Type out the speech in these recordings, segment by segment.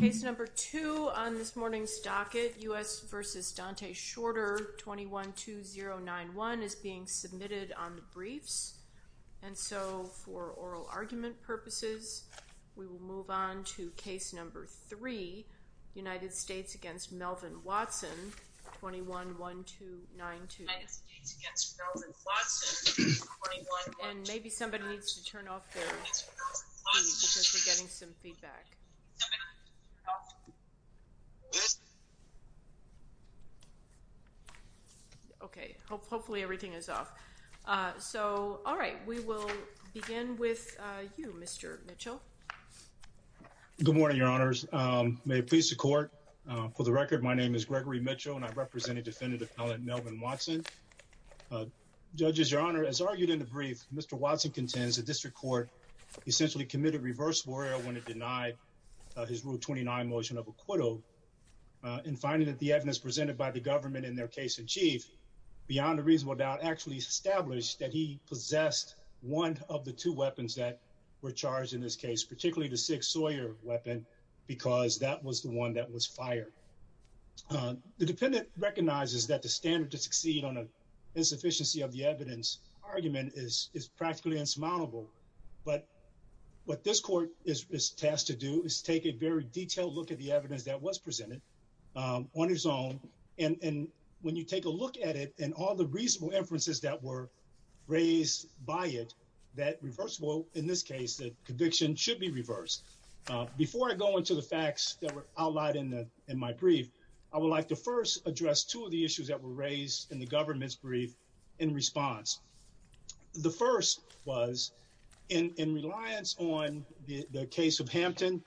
Case number 2 on this morning's docket, U.S. v. Dante Shorter, 21-2091, is being submitted on the briefs, and so for oral argument purposes, we will move on to case number 3, United States v. Melvin Watson, 21-1292. And maybe somebody needs to turn off their feed because we're getting some feedback. Okay, hopefully everything is off. So, all right, we will begin with you, Mr. Mitchell. Good morning, Your Honors. May it please the court, for the record, my name is Gregory Mitchell, and I represent a Defendant Appellant Melvin Watson. Judges, Your Honor, as argued in the brief, Mr. Watson contends the District Court essentially committed reverse lawyer when it denied his Rule 29 motion of acquittal, and finding that the evidence presented by the government in their case in chief, beyond a reasonable doubt, actually established that he were charged in this case, particularly the Sig Sawyer weapon, because that was the one that was fired. The Defendant recognizes that the standard to succeed on an insufficiency of the evidence argument is practically insurmountable, but what this court is tasked to do is take a very detailed look at the evidence that was presented on its own, and when you take a look at it and all the reasonable inferences that were raised by it, that reversible, in this case, the conviction should be reversed. Before I go into the facts that were outlined in my brief, I would like to first address two of the issues that were raised in the government's brief in response. The first was, in reliance on the case of Hampton,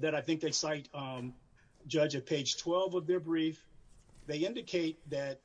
that I think they cite Judge at page 12 of their brief, they indicate that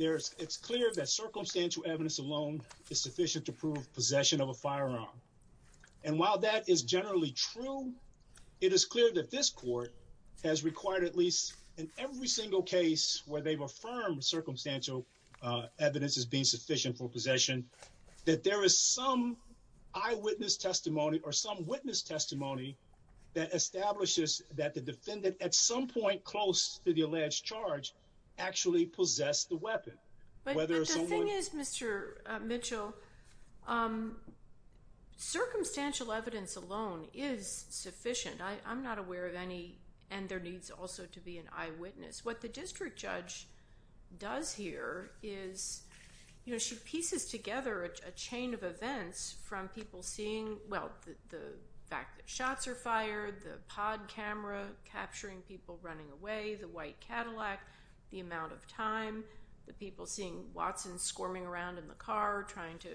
it's clear that circumstantial evidence alone is sufficient to prove possession of a firearm, and while that is generally true, it is clear that this court has required, at least in every single case where they've affirmed circumstantial evidence as being sufficient for possession, that there is some eyewitness testimony or some witness testimony that establishes that the defendant, at some point close to the alleged charge, actually possessed the weapon. But the thing is, Mr. Mitchell, circumstantial evidence alone is sufficient. I'm not aware of any, and there needs also to be an eyewitness. What the district judge does here is, you know, she pieces together a chain of events from people seeing, well, the fact that shots are fired, the pod camera capturing people running away, the white Cadillac, the amount of time, the people seeing Watson squirming around in the car trying to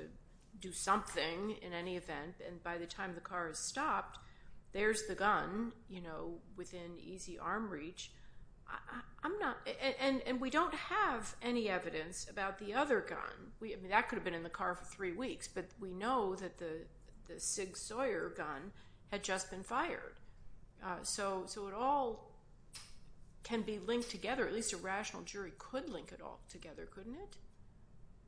do something in any event, and by the time the car has stopped, there's the gun, you know, within easy arm reach. I'm not, and we don't have any evidence about the we know that the Sig Sawyer gun had just been fired. So it all can be linked together, at least a rational jury could link it all together, couldn't it?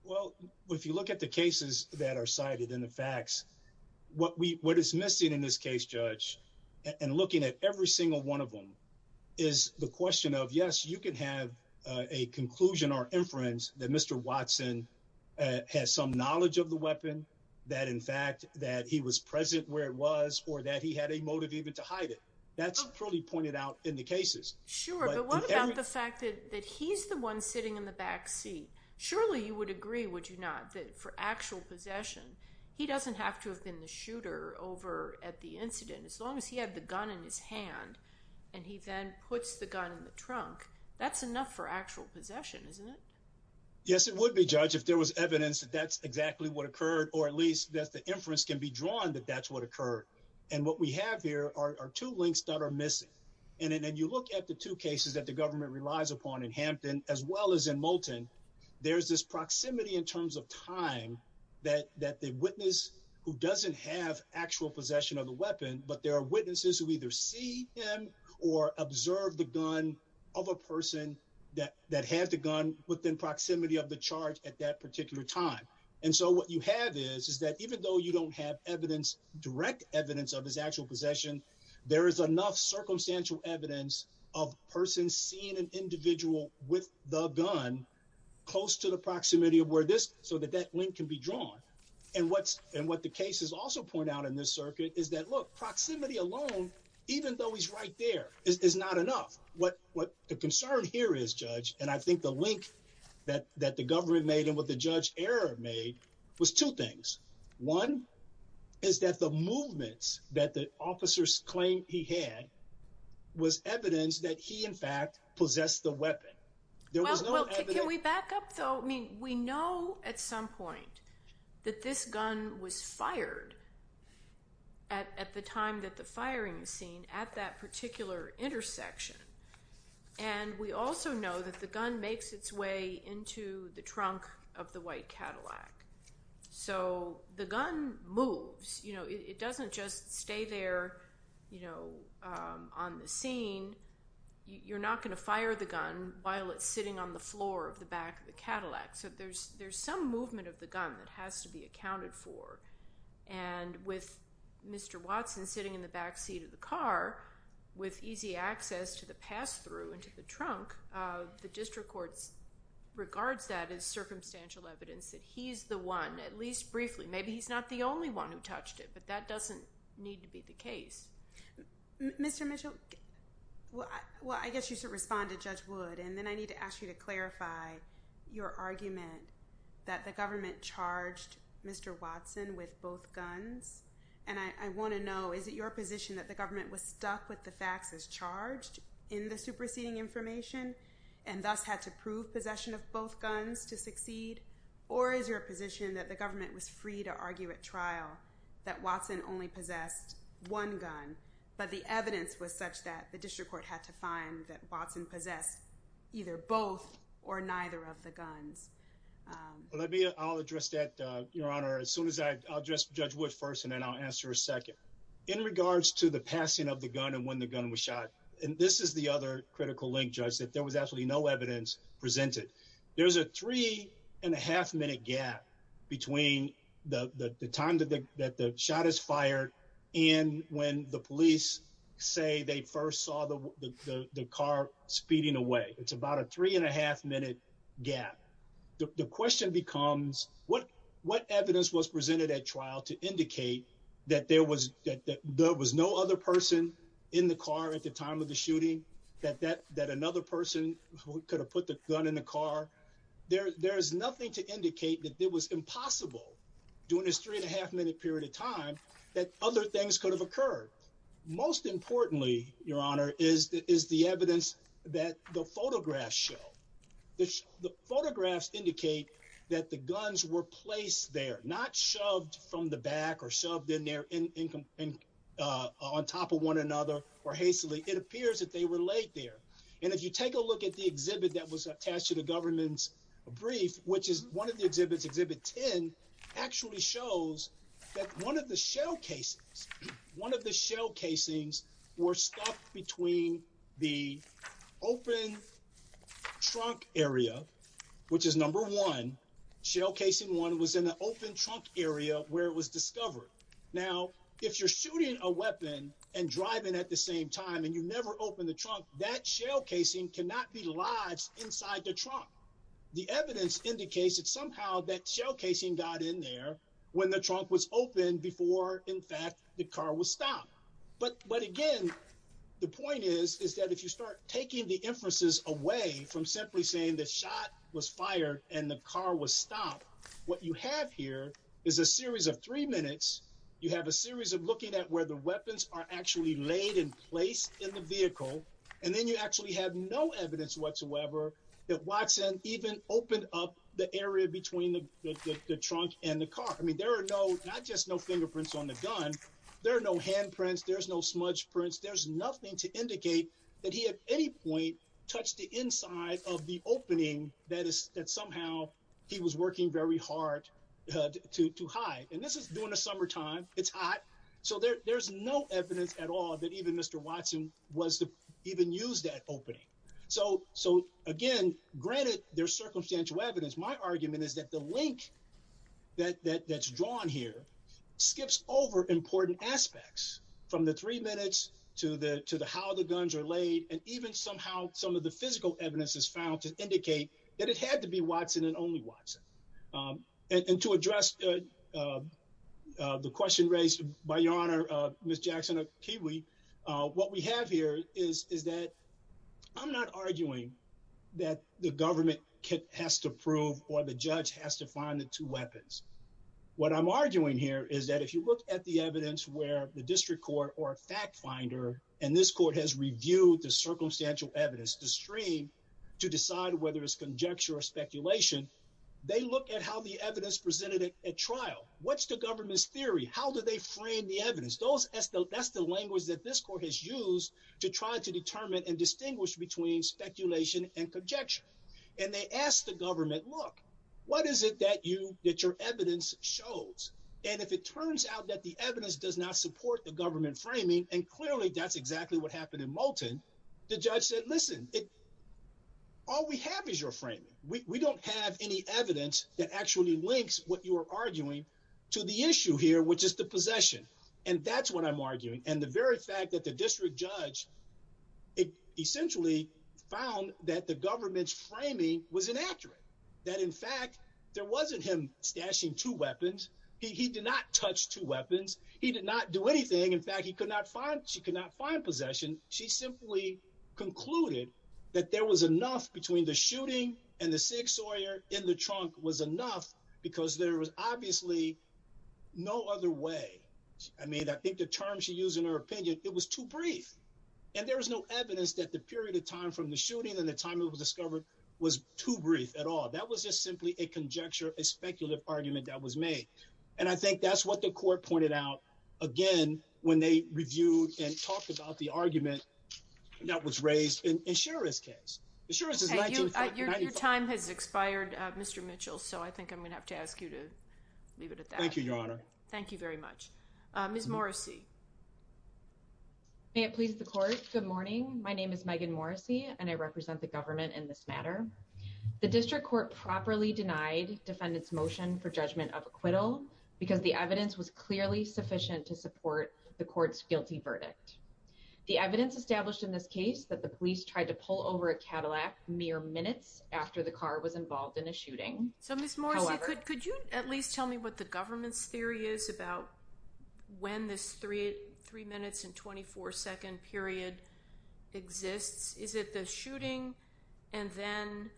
Well, if you look at the cases that are cited in the facts, what is missing in this case, Judge, and looking at every single one of them, is the question of, yes, you can have a conclusion or inference that Mr. Watson has some weapon, that in fact, that he was present where it was, or that he had a motive even to hide it. That's probably pointed out in the cases. Sure, but what about the fact that he's the one sitting in the back seat? Surely you would agree, would you not, that for actual possession, he doesn't have to have been the shooter over at the incident, as long as he had the gun in his hand, and he then puts the gun in the trunk, that's enough for actual possession, isn't it? Yes, it would be, Judge, if there was evidence that that's exactly what occurred, or at least that the inference can be drawn that that's what occurred. And what we have here are two links that are missing. And then you look at the two cases that the government relies upon in Hampton, as well as in Moulton, there's this proximity in terms of time that the witness who doesn't have actual possession of the weapon, but there are witnesses who either see him or observe the gun of a person that had the gun within proximity of the charge at that particular time. And so what you have is, is that even though you don't have evidence, direct evidence of his actual possession, there is enough circumstantial evidence of persons seeing an individual with the gun close to the proximity of where this, so that that link can be drawn. And what the cases also point out in this circuit is that, look, proximity alone, even though he's right there is not enough. What, what the concern here is, Judge, and I think the link that, that the government made and what the judge error made was two things. One is that the movements that the officers claimed he had was evidence that he in fact possessed the weapon. There was no evidence. Can we back up though? I mean, we know at some point that this gun was fired at, at the time that the firing scene at that particular intersection. And we also know that the gun makes its way into the trunk of the white Cadillac. So the gun moves, you know, it doesn't just stay there, you know, on the scene. You're not going to fire the gun while it's sitting on the floor of the back of the Cadillac. So there's, there's some movement of the gun that has to be with Mr. Watson sitting in the back seat of the car with easy access to the pass through into the trunk. The district courts regards that as circumstantial evidence that he's the one, at least briefly, maybe he's not the only one who touched it, but that doesn't need to be the case. Mr. Mitchell, well, I guess you should respond to Judge Wood. And then I need to ask you to clarify your argument that the government charged Mr. Watson with both guns. And I want to know, is it your position that the government was stuck with the facts as charged in the superseding information and thus had to prove possession of both guns to succeed? Or is your position that the government was free to argue at trial that Watson only possessed one gun, but the other of the guns? Well, let me, I'll address that, Your Honor, as soon as I address Judge Wood first, and then I'll answer a second. In regards to the passing of the gun and when the gun was shot, and this is the other critical link, Judge, that there was absolutely no evidence presented. There's a three and a half minute gap between the time that the shot is fired and when the police say they first saw the car speeding away. It's about a three and a half minute gap. The question becomes what, what evidence was presented at trial to indicate that there was, that there was no other person in the car at the time of the shooting, that, that, that another person who could have put the gun in the car. There, there is nothing to indicate that it was impossible during this three and a half minute period of time that other things could have occurred. Most importantly, Your Honor, is the, is the evidence that the photographs show. The, the photographs indicate that the guns were placed there, not shoved from the back or shoved in there in, in, uh, on top of one another or hastily. It appears that they were laid there. And if you take a look at the exhibit that was attached to the government's brief, which is one of the exhibits, Exhibit 10, actually shows that one of the shell cases, one of the shell casings were stuck between the open trunk area, which is number one, shell casing one was in the open trunk area where it was discovered. Now, if you're shooting a weapon and driving at the same time and you never opened the trunk, that shell casing cannot be lodged inside the trunk. The evidence indicates that somehow that shell casing got in there when the trunk was open before, in fact, the car was stopped. But, but again, the point is, is that if you start taking the inferences away from simply saying the shot was fired and the car was stopped, what you have here is a series of three minutes. You have a series of looking at where the weapons are actually laid in place in the vehicle. And then you actually have no up the area between the trunk and the car. I mean, there are no, not just no fingerprints on the gun. There are no handprints. There's no smudge prints. There's nothing to indicate that he at any point touched the inside of the opening that is that somehow he was working very hard to hide. And this is during the summertime. It's hot. So there's no evidence at all that even was to even use that opening. So, so again, granted their circumstantial evidence, my argument is that the link that that's drawn here skips over important aspects from the three minutes to the, to the, how the guns are laid and even somehow some of the physical evidence is found to indicate that it had to be Watson and only Watson. And to address the question raised by Ms. Jackson of Kiwi, what we have here is, is that I'm not arguing that the government has to prove or the judge has to find the two weapons. What I'm arguing here is that if you look at the evidence where the district court or fact finder, and this court has reviewed the circumstantial evidence, the stream to decide whether it's conjecture or speculation, they look at how the evidence presented at trial, what's the government's theory? How do they frame the evidence? Those as the, that's the language that this court has used to try to determine and distinguish between speculation and conjecture. And they asked the government, look, what is it that you, that your evidence shows? And if it turns out that the evidence does not support the government framing, and clearly that's exactly what happened in Moulton. The judge said, listen, it, all we have is your framing. We don't have any evidence that actually links what you were arguing to the issue here, which is the possession. And that's what I'm arguing. And the very fact that the district judge, it essentially found that the government's framing was inaccurate. That in fact, there wasn't him stashing two weapons. He did not touch two weapons. He did not do anything. In fact, he could not find, she could not find possession. She simply concluded that there was enough between the shooting and the six lawyer in the trunk was enough because there was obviously no other way. I mean, I think the term she used in her opinion, it was too brief. And there was no evidence that the period of time from the shooting and the time it was discovered was too brief at all. That was just simply a conjecture, a speculative argument that was made. And I think that's what the court pointed out again, when they reviewed and talked about the argument that was raised in insurance case. Your time has expired Mr. Mitchell. So I think I'm going to have to ask you to leave it at that. Thank you, Your Honor. Thank you very much. Ms. Morrissey. May it please the court. Good morning. My name is Megan Morrissey and I represent the government in this matter. The district court properly denied defendant's motion for judgment of acquittal because the evidence was clearly sufficient to support the court's guilty verdict. The evidence established in this case that the police tried to pull over a Cadillac mere minutes after the car was involved in a shooting. So Ms. Morrissey, could you at least tell me what the government's theory is about when this three minutes and 24 second period exists? Is it the shooting and then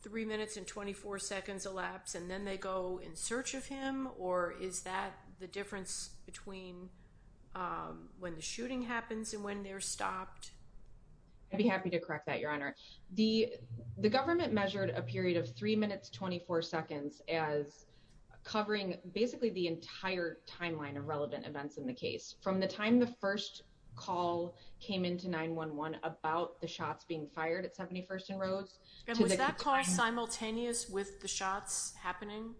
three minutes and 24 seconds elapse and then they go in search of him? Or is that the difference between when the shooting happens and when they're stopped? I'd be happy to correct that, Your Honor. The government measured a period of three minutes, 24 seconds as covering basically the entire timeline of relevant events in the case from the time the first call came into 9-1-1 about the shots being fired at 71st and Rose. And was that call simultaneous with the shots happening?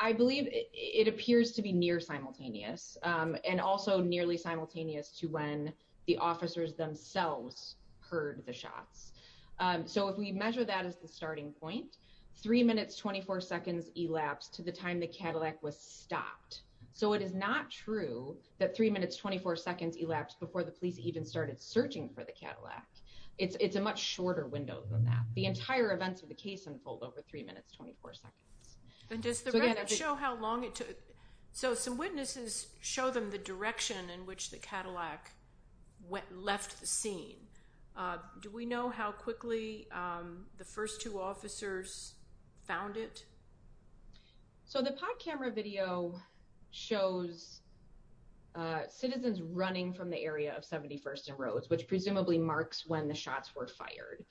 I believe it appears to be near simultaneous and also nearly simultaneous to when the officers themselves heard the shots. So if we measure that as the starting point, three minutes, 24 seconds elapsed to the time the Cadillac was stopped. So it is not true that three minutes, 24 seconds elapsed before the police even started searching for the Cadillac. It's a much shorter window than that. The entire events of the case unfold over three minutes, 24 seconds. And does the record show how long it took? So some witnesses show them the direction in which the Cadillac left the scene. Do we know how quickly the first two officers found it? So the pod camera video shows citizens running from the area of 71st and Rose, which presumably marks when the shots were fired.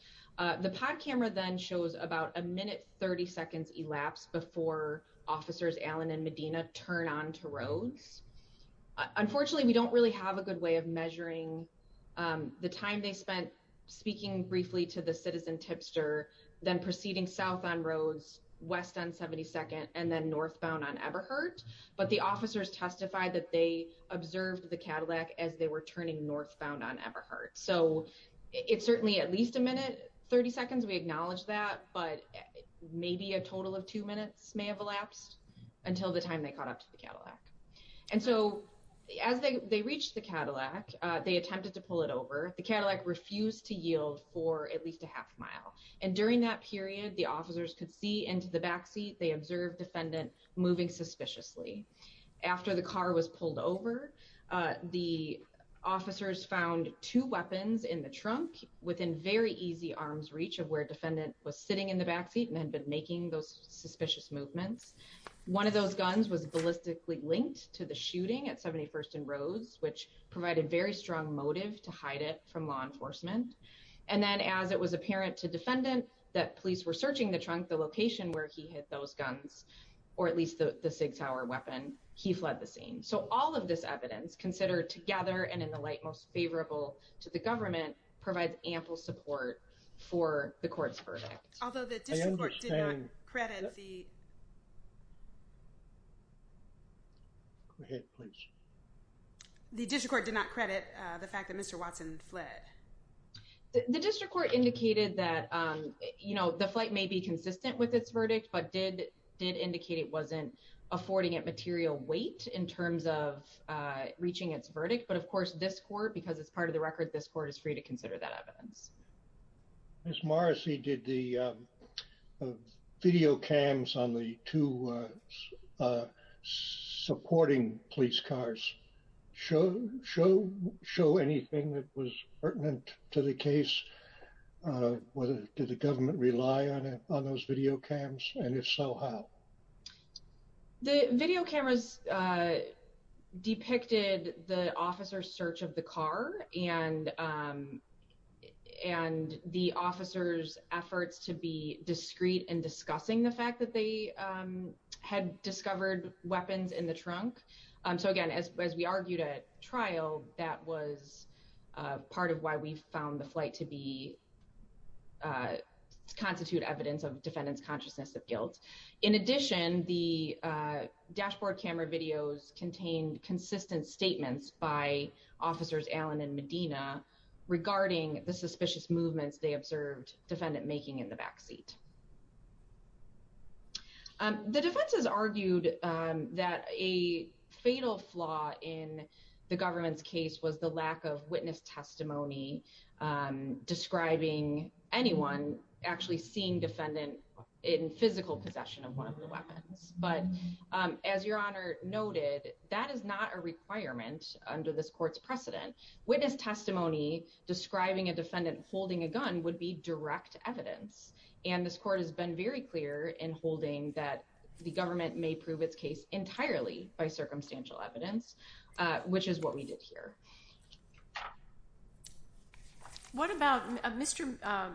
The pod camera then shows about a minute, 30 seconds elapsed before officers Allen and Medina turn on to Rose. Unfortunately, we don't really have a good way of measuring the time they spent speaking briefly to the citizen tipster, then proceeding south on Rose, west on 72nd, and then northbound on Everhart. But the officers testified that they observed the So it's certainly at least a minute, 30 seconds. We acknowledge that, but maybe a total of two minutes may have elapsed until the time they caught up to the Cadillac. And so as they reached the Cadillac, they attempted to pull it over. The Cadillac refused to yield for at least a half mile. And during that period, the officers could see into the backseat. They observed defendant moving suspiciously. After the car was pulled over, the officers found two weapons in the trunk within very easy arms reach of where defendant was sitting in the backseat and had been making those suspicious movements. One of those guns was ballistically linked to the shooting at 71st and Rose, which provided very strong motive to hide it from law enforcement. And then as it was apparent to defendant that police were searching the trunk, the location where he had those guns, or at least the SIG Sauer weapon, he fled the scene. So all of this evidence considered together and in the light most favorable to the government provides ample support for the court's verdict. Although the district court did not credit the... Go ahead, please. The district court did not credit the fact that Mr. Watson fled. The district court indicated that, you know, the flight may be consistent with its verdict, but did indicate it wasn't affording it material weight in terms of reaching its verdict. But of course, this court, because it's part of the record, this court is free to consider that evidence. Ms. Morrissey, did the video cams on the two supporting police cars show anything that was pertinent to the case? Did the government rely on those video cams? And if so, how? The video cameras depicted the officer's search of the car and the officer's efforts to be discreet in discussing the fact that they had discovered weapons in the trunk. So again, as we argued at trial, that was part of why we found the flight to be... In addition, the dashboard camera videos contained consistent statements by officers Allen and Medina regarding the suspicious movements they observed defendant making in the backseat. The defense has argued that a fatal flaw in the government's case was the lack of witness possession of one of the weapons. But as Your Honor noted, that is not a requirement under this court's precedent. Witness testimony describing a defendant holding a gun would be direct evidence. And this court has been very clear in holding that the government may prove its case entirely by circumstantial evidence, which is what we did here. What about... Mr.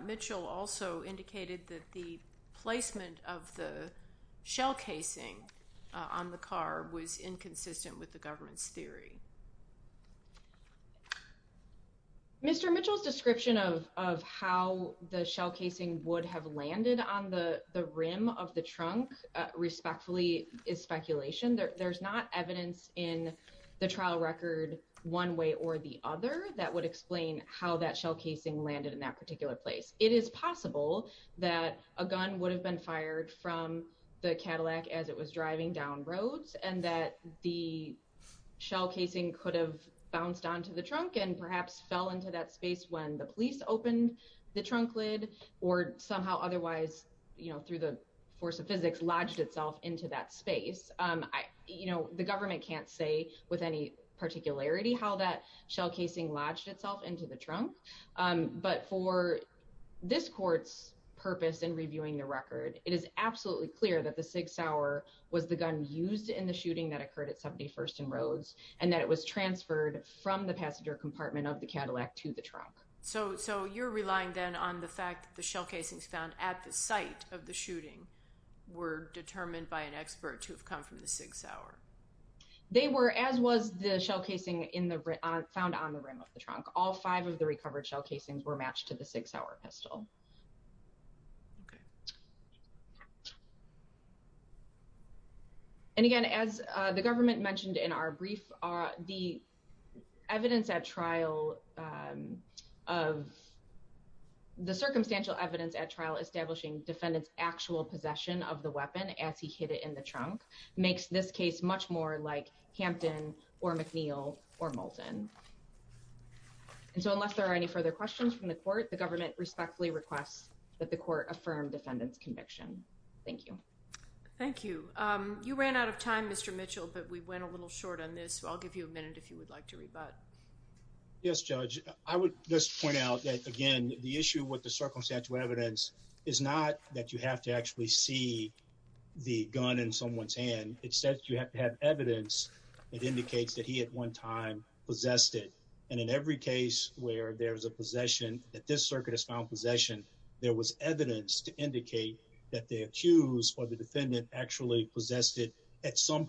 Mitchell also indicated that the placement of the shell casing on the car was inconsistent with the government's theory. Mr. Mitchell's description of how the shell casing would have landed on the rim of the trunk, respectfully, is speculation. There's not evidence in the trial record one way or the other. That would explain how that shell casing landed in that particular place. It is possible that a gun would have been fired from the Cadillac as it was driving down roads and that the shell casing could have bounced onto the trunk and perhaps fell into that space when the police opened the trunk lid or somehow otherwise, through the force of physics, lodged itself into that space. You know, the government can't say with any particularity how that shell casing lodged itself into the trunk. But for this court's purpose in reviewing the record, it is absolutely clear that the Sig Sauer was the gun used in the shooting that occurred at 71st and Rhodes, and that it was transferred from the passenger compartment of the Cadillac to the trunk. So you're relying then on the fact that the shell casings found at the site of the shooting were determined by an expert to have come from the Sig Sauer? They were, as was the shell casing found on the rim of the trunk. All five of the recovered shell casings were matched to the Sig Sauer pistol. And again, as the government mentioned in our brief, the evidence at trial of the circumstantial evidence at trial establishing defendant's actual possession of the weapon as he hid it in the trunk makes this case much more like Hampton or McNeil or Moulton. And so unless there are any further questions from the court, the government respectfully requests that the court affirm defendant's conviction. Thank you. Thank you. You ran out of time, Mr. Mitchell, but we went a little short on this. I'll give you a minute if you would like to rebut. Yes, Judge. I would just point out that, again, the issue with the circumstantial evidence is not that you have to actually see the gun in someone's hand. Instead, you have to have evidence that indicates that he at one time possessed it. And in every case where there's a possession, that this circuit has found possession, there was evidence to indicate that the accused or the defendant actually possessed it at some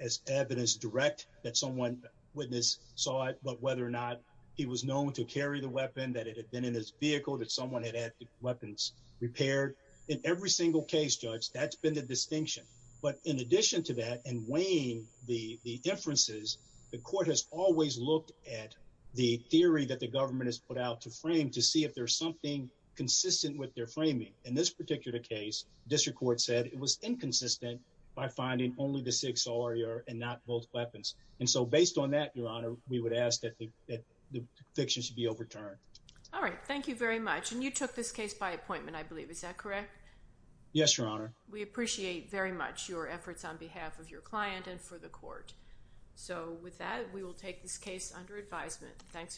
as evidence direct that someone witness saw it, but whether or not he was known to carry the weapon, that it had been in his vehicle, that someone had had the weapons repaired. In every single case, Judge, that's been the distinction. But in addition to that and weighing the inferences, the court has always looked at the theory that the government has put out to frame to see if there's something consistent with their framing. In this particular case, district court said it was inconsistent by finding only the six or your and not both weapons. And so based on that, Your Honor, we would ask that the fiction should be overturned. All right. Thank you very much. And you took this case by appointment, I believe. Is that correct? Yes, Your Honor. We appreciate very much your efforts on behalf of your client and for the court. So with that,